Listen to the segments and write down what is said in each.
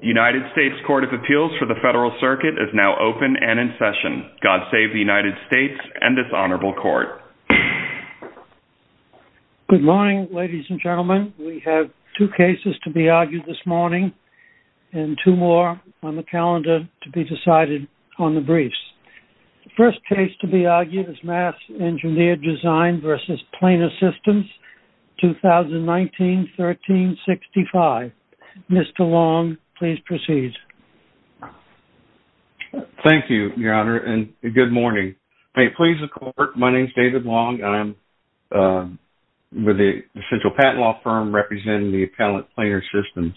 United States Court of Appeals for the Federal Circuit is now open and in session. God save the United States and this honorable court. Good morning, ladies and gentlemen. We have two cases to be argued this morning and two more on the calendar to be decided on the briefs. The first case to be argued is Mass Engineered Design v. Planar Systems, 2019-1365. Mr. Long, please proceed. Thank you, Your Honor, and good morning. Please, the court, my name is David Long. I'm with the essential patent law firm representing the appellate planar systems.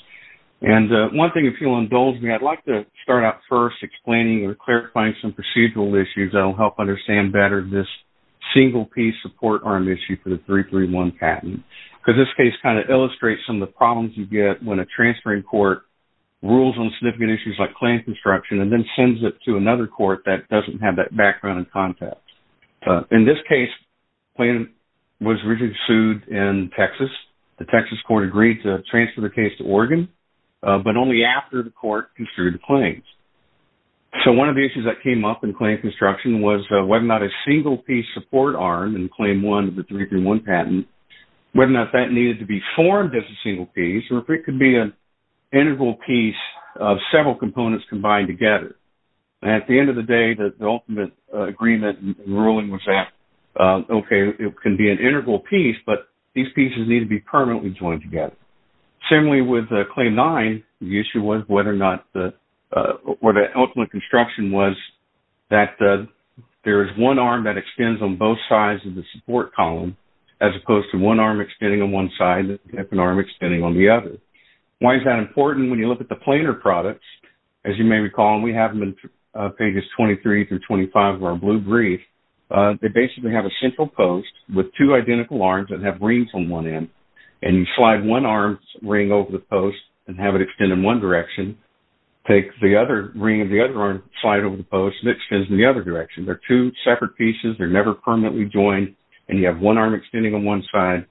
One thing, if you'll indulge me, I'd like to start out first explaining or clarifying some procedural issues that will help understand better this single piece support arm issue for the 331 patent. This case kind of illustrates some of the problems you get when a transferring court rules on significant issues like plan construction and then sends it to another court that doesn't have that background and context. In this case, the plan was originally sued in Texas. The Texas court agreed to transfer the case to Oregon, but only after the court construed the claims. So one of the issues that came up in claim construction was whether or not a single piece support arm in claim one of the 331 patent, whether or not that needed to be formed as a single piece or if it could be an integral piece of several components combined together. At the end of the day, the ultimate agreement and ruling was that, okay, it can be an integral piece, but these pieces need to be permanently joined together. Similarly, with claim nine, the issue was whether or not the ultimate construction was that there is one arm that extends on both sides of the support column as opposed to one arm extending on one side and an arm extending on the other. Why is that important? When you look at the planar products, as you may recall, and we have them in pages 23 through 25 of our blue brief, they basically have a central post with two identical arms that have rings on one end, and you slide one arm's ring over the post and have it extend in one direction, take the other ring of the other arm, slide it over the post, and it extends in the other direction. They're two separate pieces. They're never permanently joined, and you have one arm extending on one side,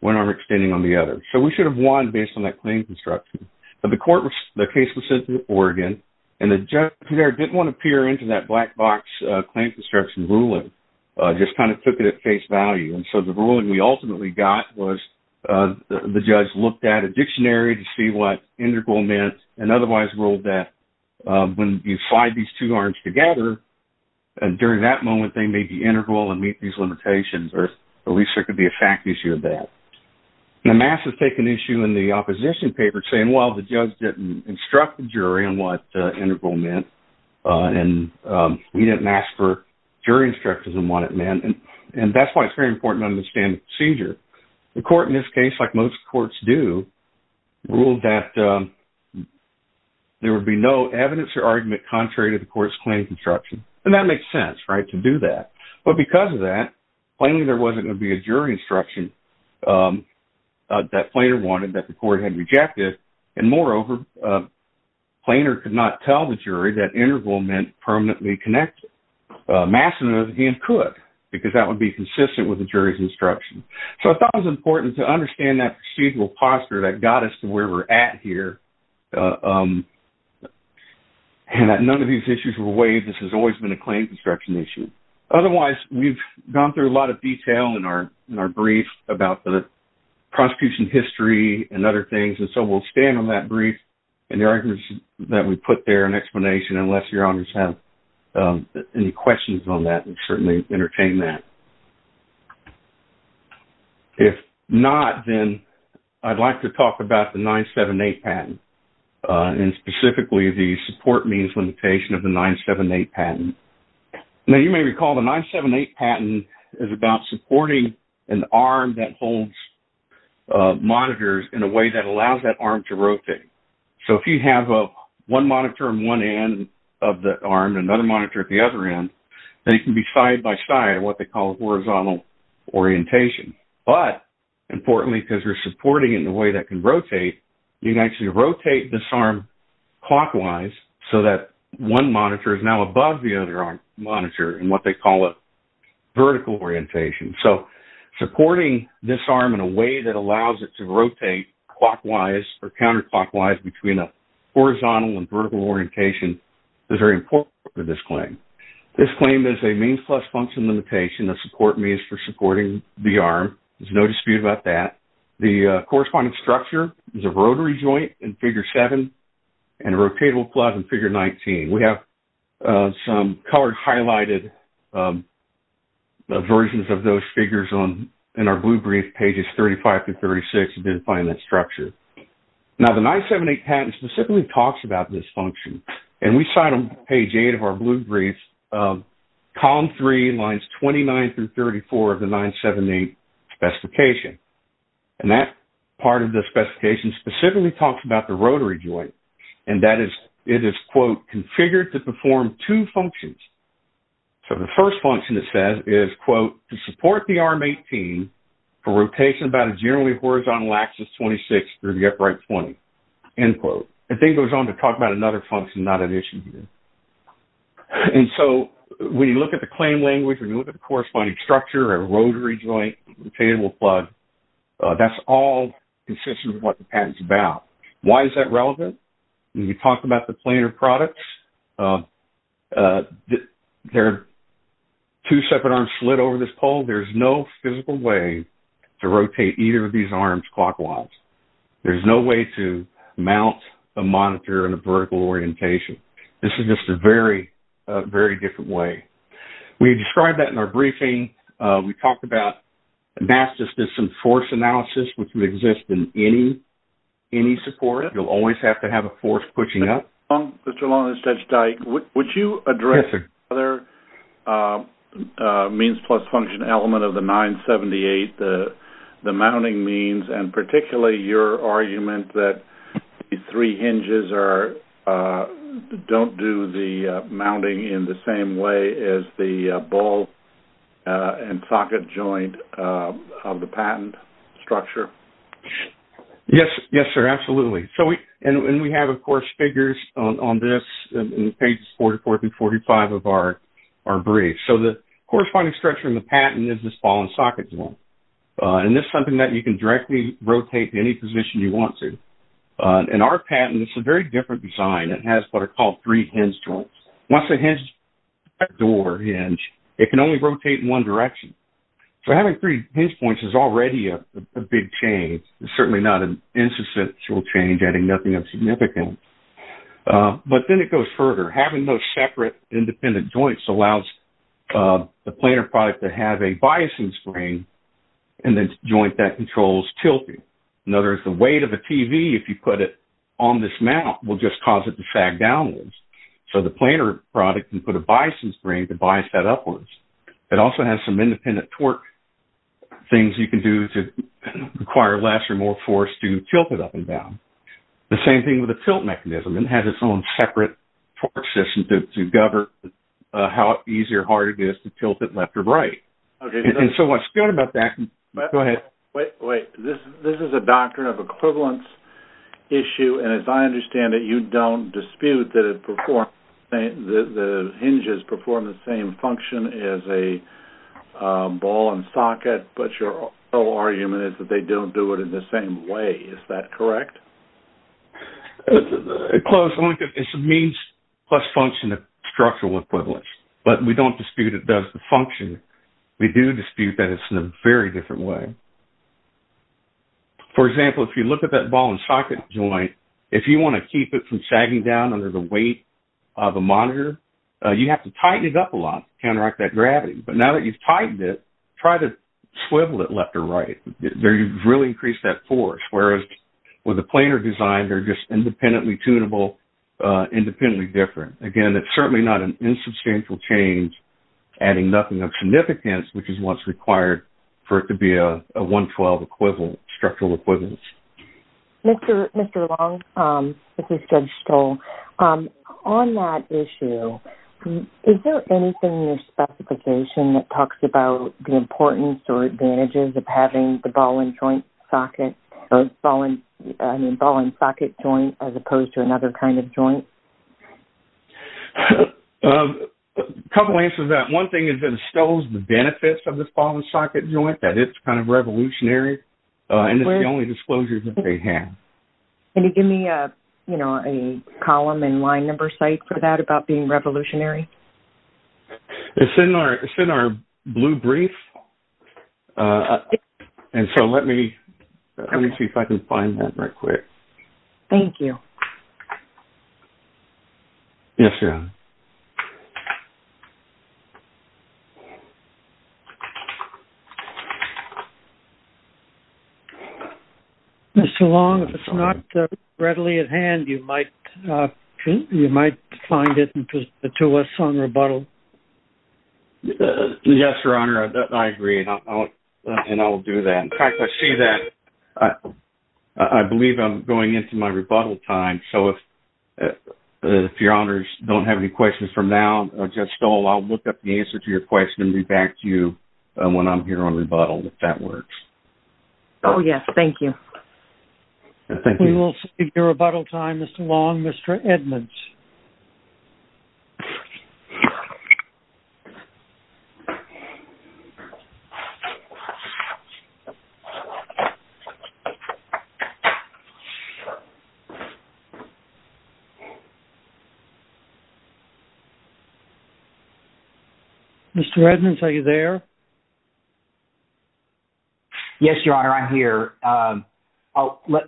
one arm extending on the other. So we should have won based on that claim construction. But the court, the case was sent to Oregon, and the judge there didn't want to peer into that black box claim construction ruling, just kind of took it at face value. And so the ruling we ultimately got was the judge looked at a dictionary to see what integral meant and otherwise ruled that when you slide these two arms together, during that moment, they may be integral and meet these limitations, or at least there could be a fact issue of that. Now, mass has taken issue in the opposition paper saying, well, the judge didn't instruct the jury on what integral meant, and he didn't ask for jury instructions on what it meant, and that's why it's very important to understand the procedure. The court in this case, like most courts do, ruled that there would be no evidence or argument contrary to the court's claim construction. And that makes sense, right, to do that. But because of that, plainly there wasn't going to be a jury instruction that Planer wanted that the court had rejected, and moreover, Planer could not tell the jury that integral meant permanently connected. Mass, on the other hand, could, because that would be consistent with the jury's instruction. So I thought it was important to understand that procedural posture that got us to where we're at here, and that none of these issues were waived. This has always been a claim construction issue. Otherwise, we've gone through a lot of detail in our brief about the prosecution history and other things, and so we'll stand on that brief and the arguments that we put there and explanation, unless your honors have any questions on that and certainly entertain that. If not, then I'd like to talk about the 978 patent, and specifically the support means limitation of the 978 patent. Now, you may recall the 978 patent is about supporting an arm that holds monitors in a way that allows that arm to rotate. So if you have one monitor on one end of the arm and another monitor at the other end, they can be side by side in what they call horizontal orientation. But importantly, because you're supporting it in a way that can rotate, you can actually rotate this arm clockwise so that one monitor is now above the other monitor in what they call a vertical orientation. So supporting this arm in a way that allows it to rotate clockwise or counterclockwise between a horizontal and vertical orientation is very important for this claim. This claim is a means plus function limitation. The support means for supporting the arm. There's no dispute about that. The corresponding structure is a rotary joint in Figure 7 and a rotatable club in Figure 19. We have some colored highlighted versions of those figures in our blue brief, pages 35 to 36, if you didn't find that structure. Now, the 978 patent specifically talks about this function, and we cite on page 8 of our blue brief, column 3, lines 29 through 34 of the 978 specification. And that part of the specification specifically talks about the rotary joint, and that is it is, quote, configured to perform two functions. So the first function it says is, quote, to support the arm 18 for rotation about a generally horizontal axis 26 through the upright 20, end quote. It then goes on to talk about another function not an issue here. And so when you look at the claim language, when you look at the corresponding structure, a rotary joint, rotatable club, that's all consistent with what the patent's about. Why is that relevant? When you talk about the planar products, there are two separate arms slid over this pole. There's no physical way to rotate either of these arms clockwise. There's no way to mount a monitor in a vertical orientation. This is just a very, very different way. We described that in our briefing. We talked about mass-to-system force analysis, which would exist in any support. You'll always have to have a force pushing up. Mr. Long and Judge Dyke, would you address the other means plus function element of the 978, the mounting means, and particularly your argument that the three hinges don't do the mounting in the same way as the ball and socket joint of the patent structure? Yes, sir, absolutely. And we have, of course, figures on this in pages 44 through 45 of our brief. So the corresponding structure in the patent is this ball and socket joint. And this is something that you can directly rotate to any position you want to. In our patent, it's a very different design. It has what are called three hinge joints. Once a hinge door hinge, it can only rotate in one direction. So having three hinge points is already a big change. It's certainly not an insubstantial change, adding nothing of significance. But then it goes further. Having those separate independent joints allows the planar product to have a biasing spring and a joint that controls tilting. In other words, the weight of the TV, if you put it on this mount, will just cause it to sag downwards. So the planar product can put a biasing spring to bias that upwards. It also has some independent torque things you can do to require less or more force to tilt it up and down. The same thing with the tilt mechanism. It has its own separate torque system to govern how easy or hard it is to tilt it left or right. And so what's good about that – go ahead. Wait, wait. This is a doctrine of equivalence issue. And as I understand it, you don't dispute that hinges perform the same function as a ball and socket, but your whole argument is that they don't do it in the same way. Is that correct? Close. It's a means plus function of structural equivalence. But we don't dispute it does the function. We do dispute that it's in a very different way. For example, if you look at that ball and socket joint, if you want to keep it from sagging down under the weight of a monitor, you have to tighten it up a lot to counteract that gravity. But now that you've tightened it, try to swivel it left or right. You've really increased that force, whereas with a planar design, they're just independently tunable, independently different. Again, it's certainly not an insubstantial change, adding nothing of significance, which is what's required for it to be a 112 structural equivalence. Mr. Long, this is Judge Stoll. On that issue, is there anything in your specification that talks about the importance or advantages of having the ball and socket joint as opposed to another kind of joint? A couple answers to that. One thing is that Stoll's benefits of this ball and socket joint, that it's kind of revolutionary, and it's the only disclosure that they have. Can you give me a column and line number site for that about being revolutionary? It's in our blue brief. So let me see if I can find that real quick. Thank you. Yes, Your Honor. Mr. Long, if it's not readily at hand, you might find it and present it to us on rebuttal. Yes, Your Honor, I agree, and I'll do that. In fact, I see that. I believe I'm going into my rebuttal time, so if Your Honors don't have any questions from now, Judge Stoll, I'll look up the answer to your question and be back to you when I'm here on rebuttal, if that works. Oh, yes, thank you. We will save your rebuttal time, Mr. Long. Mr. Edmonds. Mr. Edmonds, are you there?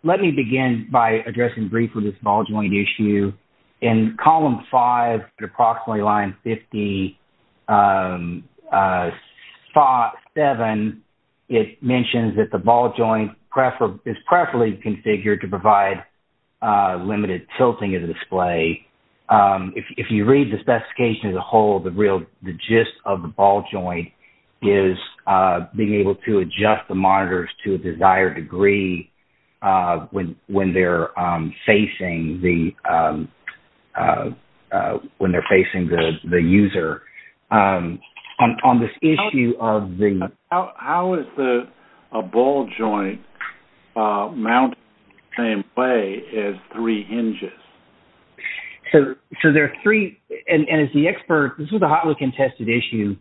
Let me begin by addressing briefly this ball joint issue. In column five at approximately line 57, it mentions that the ball joint is preferably configured to provide limited tilting of the display. If you read the specification as a whole, the gist of the ball joint is being able to adjust the monitors to a desired degree when they're facing the user. How is a ball joint mounted in the same way as three hinges? This was a hotly contested issue.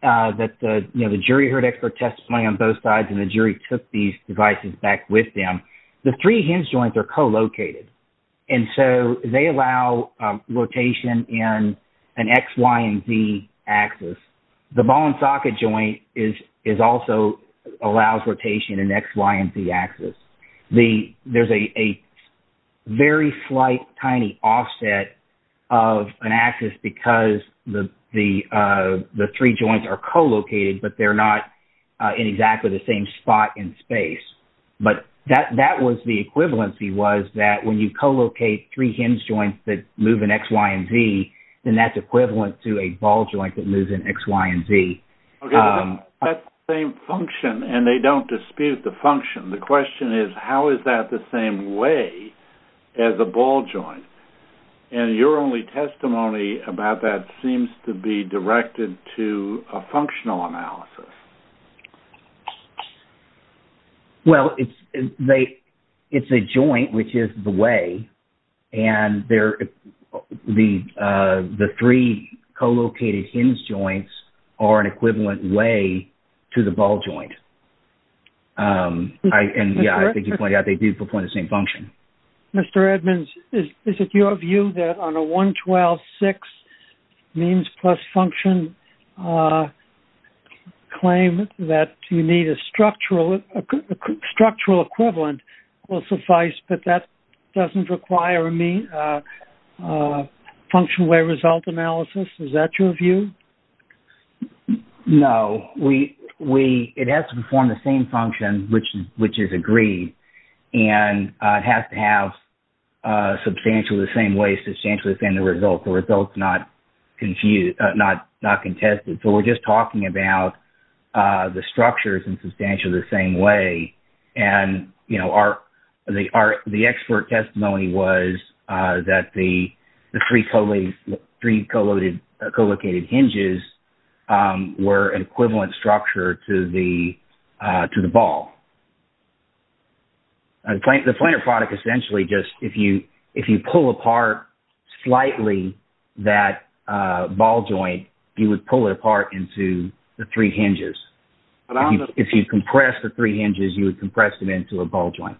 The jury heard expert testimony on both sides, and the jury took these devices back with them. The three hinge joints are co-located, and so they allow rotation in an X, Y, and Z axis. The ball and socket joint also allows rotation in X, Y, and Z axis. There's a very slight, tiny offset of an axis because the three joints are co-located, but they're not in exactly the same spot in space. But that was the equivalency was that when you co-locate three hinge joints that move in X, Y, and Z, then that's equivalent to a ball joint that moves in X, Y, and Z. Okay, but that's the same function, and they don't dispute the function. The question is, how is that the same way as a ball joint? And your only testimony about that seems to be directed to a functional analysis. Well, it's a joint, which is the way, and the three co-located hinge joints are an equivalent way to the ball joint. And, yeah, I think you pointed out they do perform the same function. Mr. Edmonds, is it your view that on a 112-6 means plus function claim that you need a structural equivalent will suffice, but that doesn't require a function-way result analysis? Is that your view? No. It has to perform the same function, which is agreed, and it has to have substantially the same way, substantially the same results, the results not contested. So we're just talking about the structures in substantially the same way. And, you know, the expert testimony was that the three co-located hinges were an equivalent structure to the ball. The planar product essentially just, if you pull apart slightly that ball joint, you would pull it apart into the three hinges. If you compress the three hinges, you would compress them into a ball joint.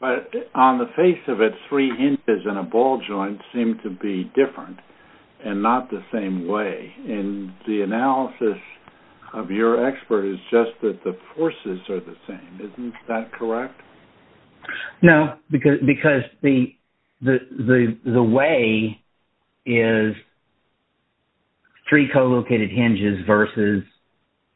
But on the face of it, three hinges and a ball joint seem to be different and not the same way. And the analysis of your expert is just that the forces are the same. Isn't that correct? No, because the way is three co-located hinges versus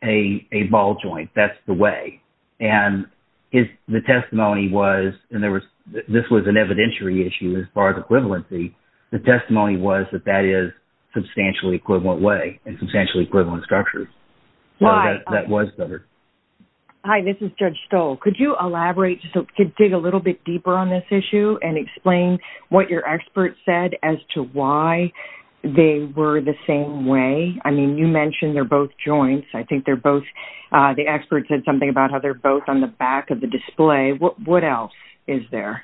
a ball joint. That's the way. And the testimony was, and this was an evidentiary issue as far as equivalency, the testimony was that that is substantially equivalent way and substantially equivalent structure. Why? That was covered. Hi, this is Judge Stoll. Could you elaborate, dig a little bit deeper on this issue and explain what your expert said as to why they were the same way? I mean, you mentioned they're both joints. I think they're both, the expert said something about how they're both on the back of the display. What else is there?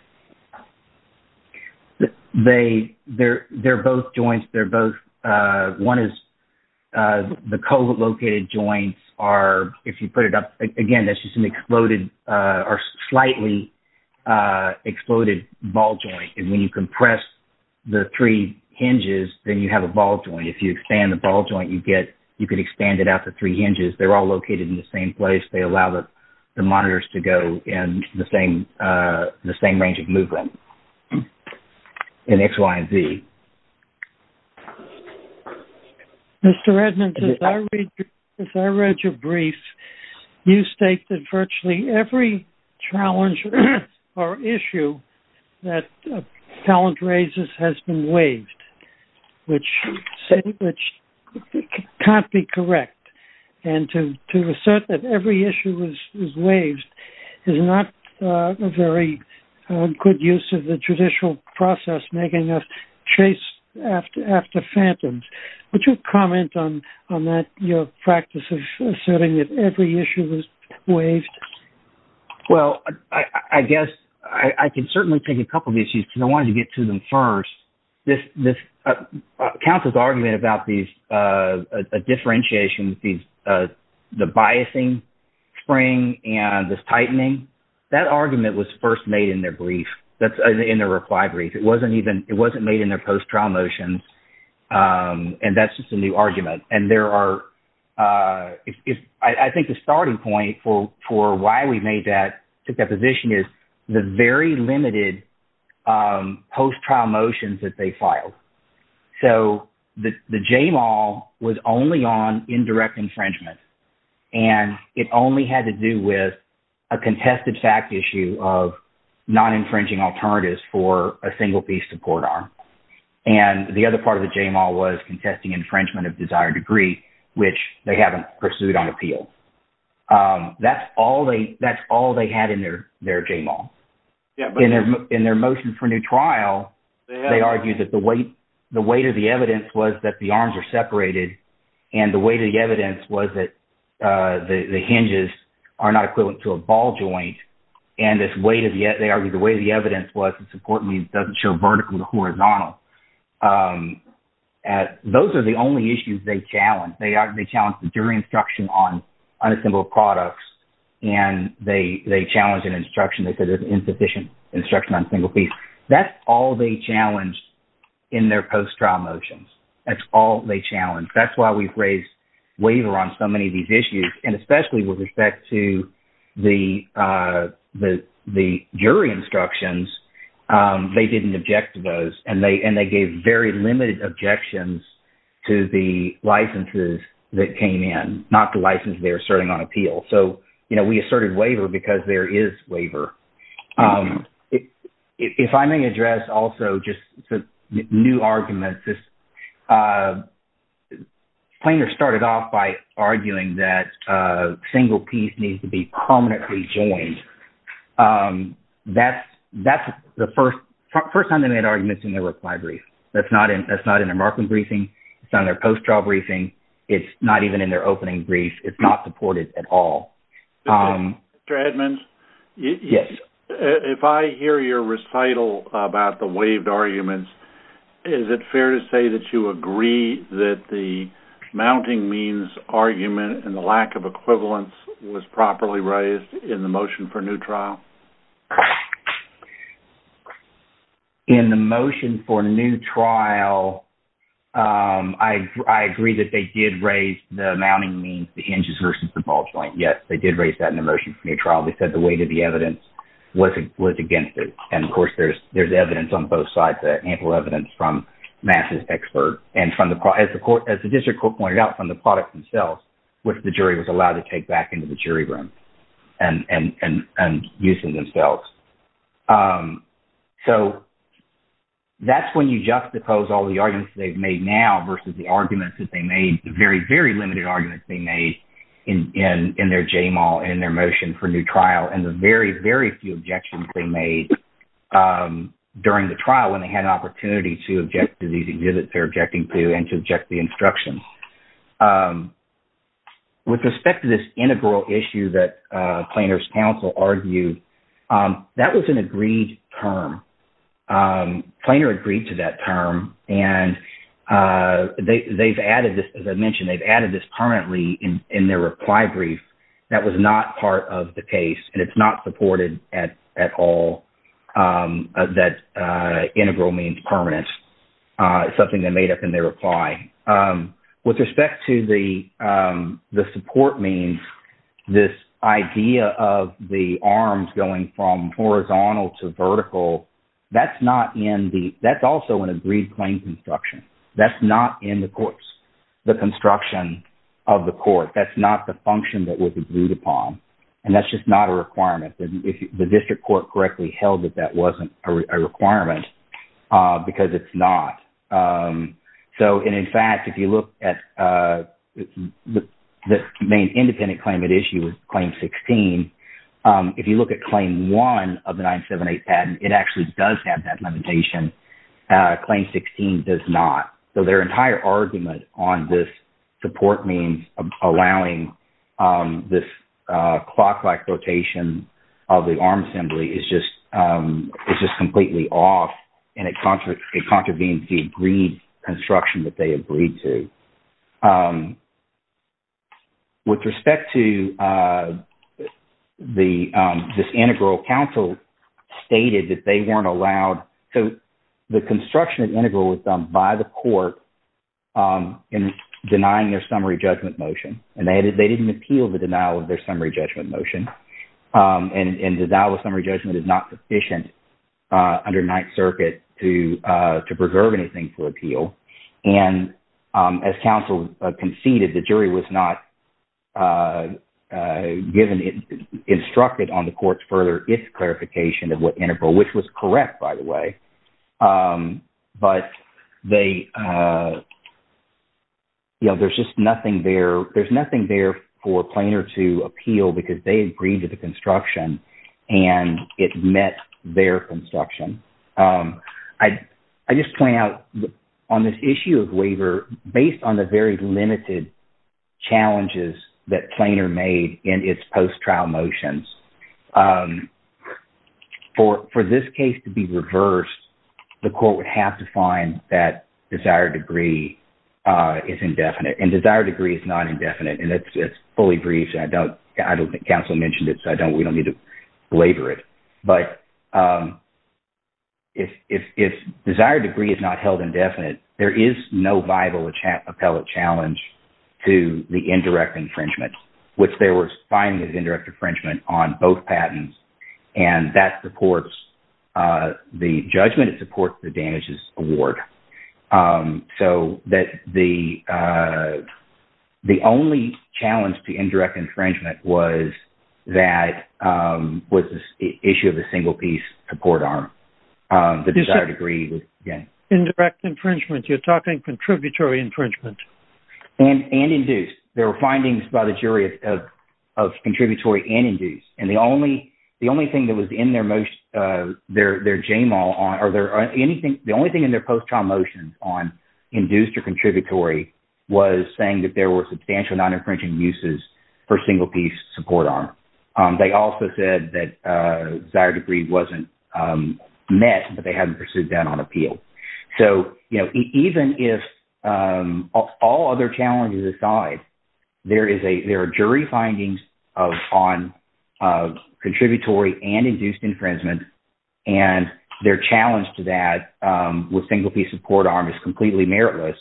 They're both joints. One is the co-located joints are, if you put it up, again, that's just an exploded or slightly exploded ball joint. And when you compress the three hinges, then you have a ball joint. If you expand the ball joint, you could expand it out to three hinges. They're all located in the same place. They allow the monitors to go in the same range of movement. And X, Y, and Z. Mr. Edmonds, as I read your brief, you state that virtually every challenge or issue that a talent raises has been waived, which can't be correct. And to assert that every issue is waived is not a very good use of the judicial process making us chase after phantoms. Would you comment on that, your practice of asserting that every issue is waived? Well, I guess I can certainly take a couple of issues because I wanted to get to them first. Council's argument about a differentiation, the biasing spring and this tightening, that argument was first made in their reply brief. It wasn't made in their post-trial motions. And that's just a new argument. I think the starting point for why we took that position is the very limited post-trial motions that they filed. So the JMAL was only on indirect infringement. And it only had to do with a contested fact issue of non-infringing alternatives for a single piece support arm. And the other part of the JMAL was contesting infringement of desired degree, which they haven't pursued on appeal. That's all they had in their JMAL. In their motion for new trial, they argued that the weight of the evidence was that the arms are separated. And the weight of the evidence was that the hinges are not equivalent to a ball joint. And this weight of the – they argued the weight of the evidence was the support means doesn't show vertical to horizontal. Those are the only issues they challenged. They challenged the jury instruction on unassembled products. And they challenged an instruction that said there's insufficient instruction on single piece. That's all they challenged in their post-trial motions. That's all they challenged. That's why we've raised waiver on so many of these issues. And especially with respect to the jury instructions, they didn't object to those. And they gave very limited objections to the licenses that came in, not the license they're asserting on appeal. So, you know, we asserted waiver because there is waiver. If I may address also just some new arguments. Plainer started off by arguing that single piece needs to be prominently joined. That's the first time they made arguments in their reply brief. That's not in their marking briefing. It's not in their post-trial briefing. It's not even in their opening brief. It's not supported at all. Mr. Edmonds? Yes. If I hear your recital about the waived arguments, is it fair to say that you agree that the mounting means argument and the lack of equivalence was properly raised in the motion for new trial? In the motion for new trial, I agree that they did raise the mounting means, the hinges versus the ball joint. Yes, they did raise that in the motion for new trial. They said the weight of the evidence was against it. And, of course, there's evidence on both sides, ample evidence from Mass's expert. As the district court pointed out, from the product themselves, which the jury was allowed to take back into the jury room and use in themselves. So that's when you juxtapose all the arguments they've made now versus the arguments that they made, the very, very limited arguments they made in their JMAL, in their motion for new trial, and the very, very few objections they made during the trial when they had an opportunity to object to these exhibits they're objecting to and to object the instruction. With respect to this integral issue that Plainer's counsel argued, that was an agreed term. Plainer agreed to that term, and they've added this, as I mentioned, they've added this permanently in their reply brief. That was not part of the case, and it's not supported at all. That integral means permanent is something they made up in their reply. With respect to the support means, this idea of the arms going from horizontal to vertical, that's not in the, that's also an agreed claim construction. That's not in the court's, the construction of the court. That's not the function that was agreed upon, and that's just not a requirement. If the district court correctly held that that wasn't a requirement, because it's not. So, and in fact, if you look at the main independent claimant issue with Claim 16, if you look at Claim 1 of the 978 patent, it actually does have that limitation. Claim 16 does not. So their entire argument on this support means allowing this clock-like rotation of the arm assembly is just completely off. And it contravenes the agreed construction that they agreed to. With respect to this integral, counsel stated that they weren't allowed. So the construction of the integral was done by the court in denying their summary judgment motion. And they didn't appeal the denial of their summary judgment motion. And denial of summary judgment is not sufficient under Ninth Circuit to preserve anything for appeal. And as counsel conceded, the jury was not given – instructed on the court's further if clarification of what integral, which was correct, by the way. But they – you know, there's just nothing there. There's nothing there for a plainer to appeal because they agreed to the construction, and it met their construction. I just point out on this issue of waiver, based on the very limited challenges that plainer made in its post-trial motions, for this case to be reversed, the court would have to find that desired degree is indefinite. And desired degree is not indefinite, and it's fully briefed. I don't think counsel mentioned it, so we don't need to belabor it. But if desired degree is not held indefinite, there is no viable appellate challenge to the indirect infringement, which they were finding as indirect infringement on both patents. And that supports the judgment. It supports the damages award. So that the only challenge to indirect infringement was that – was the issue of the single-piece support arm, the desired degree. Indirect infringement. You're talking contributory infringement. And induced. There were findings by the jury of contributory and induced. And the only thing that was in their motion – their JMAL on – or the only thing in their post-trial motions on induced or contributory was saying that there were substantial non-infringing uses for single-piece support arm. They also said that desired degree wasn't met, but they hadn't pursued that on appeal. So even if – all other challenges aside, there are jury findings on contributory and induced infringement. And their challenge to that with single-piece support arm is completely meritless,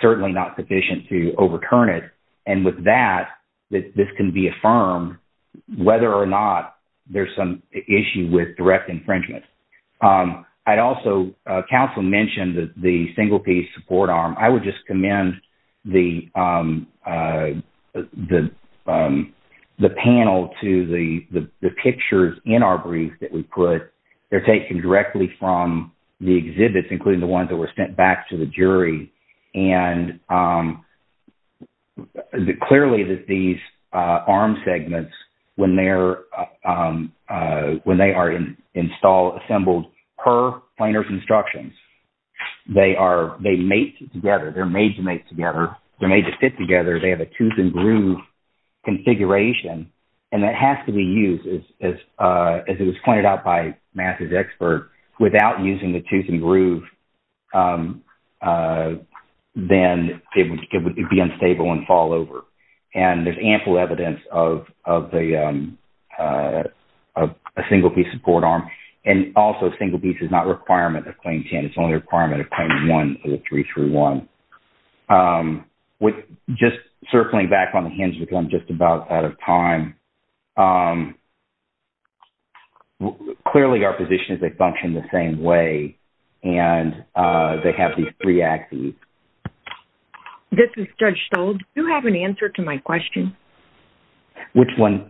certainly not sufficient to overturn it. And with that, this can be affirmed whether or not there's some issue with direct infringement. I'd also – counsel mentioned the single-piece support arm. I would just commend the panel to the pictures in our brief that we put. They're taken directly from the exhibits, including the ones that were sent back to the jury. And clearly, these arm segments, when they are installed, assembled per planar's instructions, they mate together. They're made to mate together. They're made to fit together. They have a tooth and groove configuration, and that has to be used. As it was pointed out by Matt's expert, without using the tooth and groove, then it would be unstable and fall over. And there's ample evidence of a single-piece support arm. And also, single-piece is not a requirement of Claim 10. It's only a requirement of Claim 1 of the 331. Just circling back on the hinge, because I'm just about out of time, clearly our positions, they function the same way, and they have these three axes. This is Judge Stoll. Do you have an answer to my question? Which one?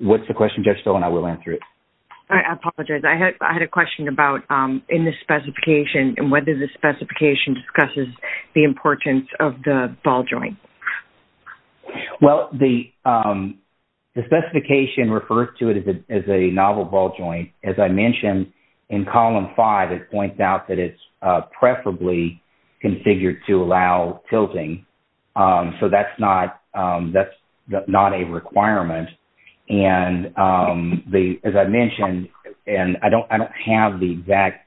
What's the question, Judge Stoll? And I will answer it. I apologize. I had a question about in the specification and whether the specification discusses the importance of the ball joint. Well, the specification refers to it as a novel ball joint. As I mentioned, in Column 5, it points out that it's preferably configured to allow tilting. So that's not a requirement. And as I mentioned, and I don't have the exact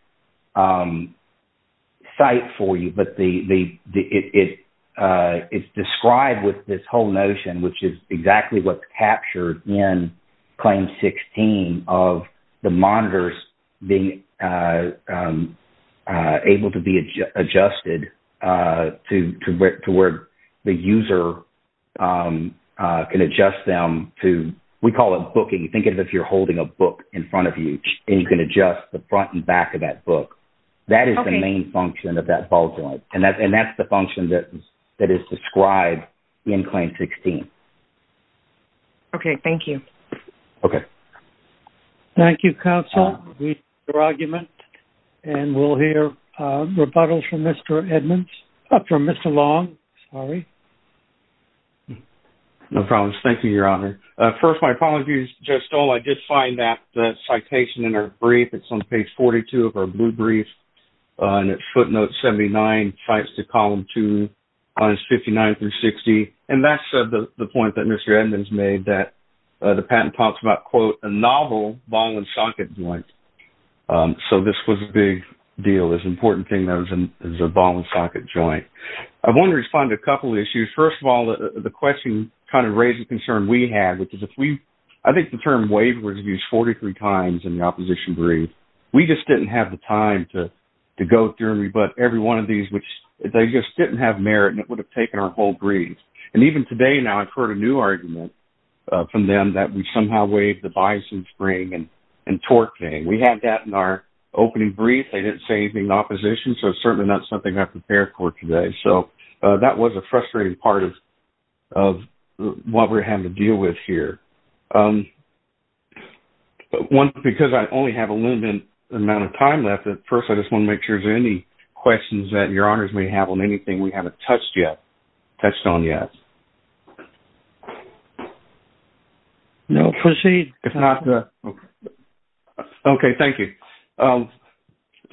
site for you, but it's described with this whole notion, which is exactly what's captured in Claim 16, of the monitors being able to be adjusted to where the user can adjust them to, we call it booking. Think of it as if you're holding a book in front of you, and you can adjust the front and back of that book. That is the main function of that ball joint, and that's the function that is described in Claim 16. Okay. Thank you. Okay. Thank you, Counsel. We've heard your argument, and we'll hear rebuttals from Mr. Long. No problems. Thank you, Your Honor. First, my apologies, Judge Stoll. I did find that citation in our brief. It's on page 42 of our blue brief, and it footnotes 79, and it cites the Column 2, lines 59 through 60. And that's the point that Mr. Edmonds made, that the patent talks about, quote, a novel ball and socket joint. So this was a big deal, this important thing that was a ball and socket joint. I want to respond to a couple of issues. First of all, the question kind of raised a concern we had, which is if we – I think the term waiver was used 43 times in the opposition brief. We just didn't have the time to go through and rebut every one of these. They just didn't have merit, and it would have taken our whole brief. And even today now, I've heard a new argument from them that we somehow waived the bison spring and torque thing. We had that in our opening brief. They didn't say anything in the opposition, so it's certainly not something I prepared for today. So that was a frustrating part of what we're having to deal with here. One, because I only have a limited amount of time left, first I just want to make sure if there are any questions that Your Honors may have on anything we haven't touched on yet. No, proceed. Okay, thank you.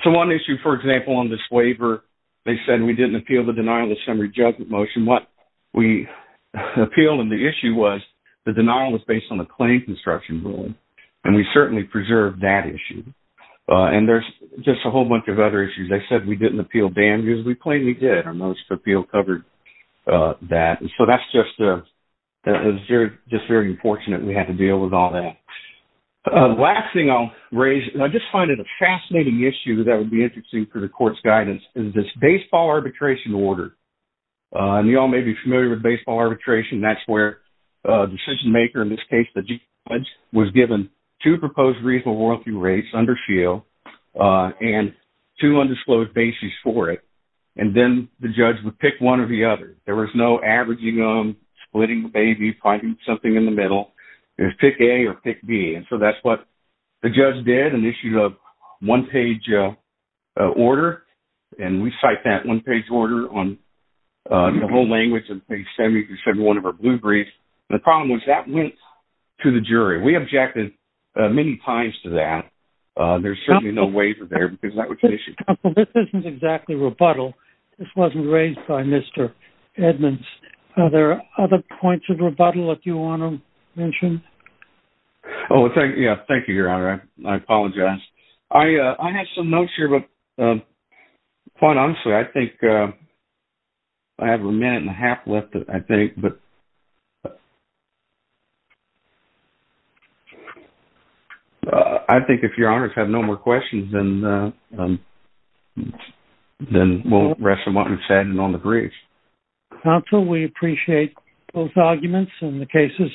So one issue, for example, on this waiver, they said we didn't appeal the denial of summary judgment motion. What we appealed, and the issue was the denial was based on the claim construction rule, and we certainly preserved that issue. And there's just a whole bunch of other issues. They said we didn't appeal damages. We plainly did. Our most appeal covered that. So that's just – it was just very unfortunate we had to deal with all that. The last thing I'll raise, and I just find it a fascinating issue that would be interesting for the court's guidance, is this baseball arbitration order. And you all may be familiar with baseball arbitration. That's where a decision-maker, in this case the judge, was given two proposed reasonable royalty rates under SHIELD and two undisclosed bases for it. And then the judge would pick one or the other. There was no averaging them, splitting the baby, finding something in the middle. It was pick A or pick B. And so that's what the judge did and issued a one-page order, and we cite that one-page order on the whole language in page 71 of our blue brief. And the problem was that went to the jury. We objected many times to that. There's certainly no waiver there because that was an issue. Counsel, this isn't exactly rebuttal. This wasn't raised by Mr. Edmonds. Are there other points of rebuttal that you want to mention? Oh, yeah, thank you, Your Honor. I apologize. I have some notes here, but quite honestly, I think I have a minute and a half left, I think. I think if Your Honors have no more questions, then we'll rest them on the briefs. Counsel, we appreciate both arguments and the cases submitted.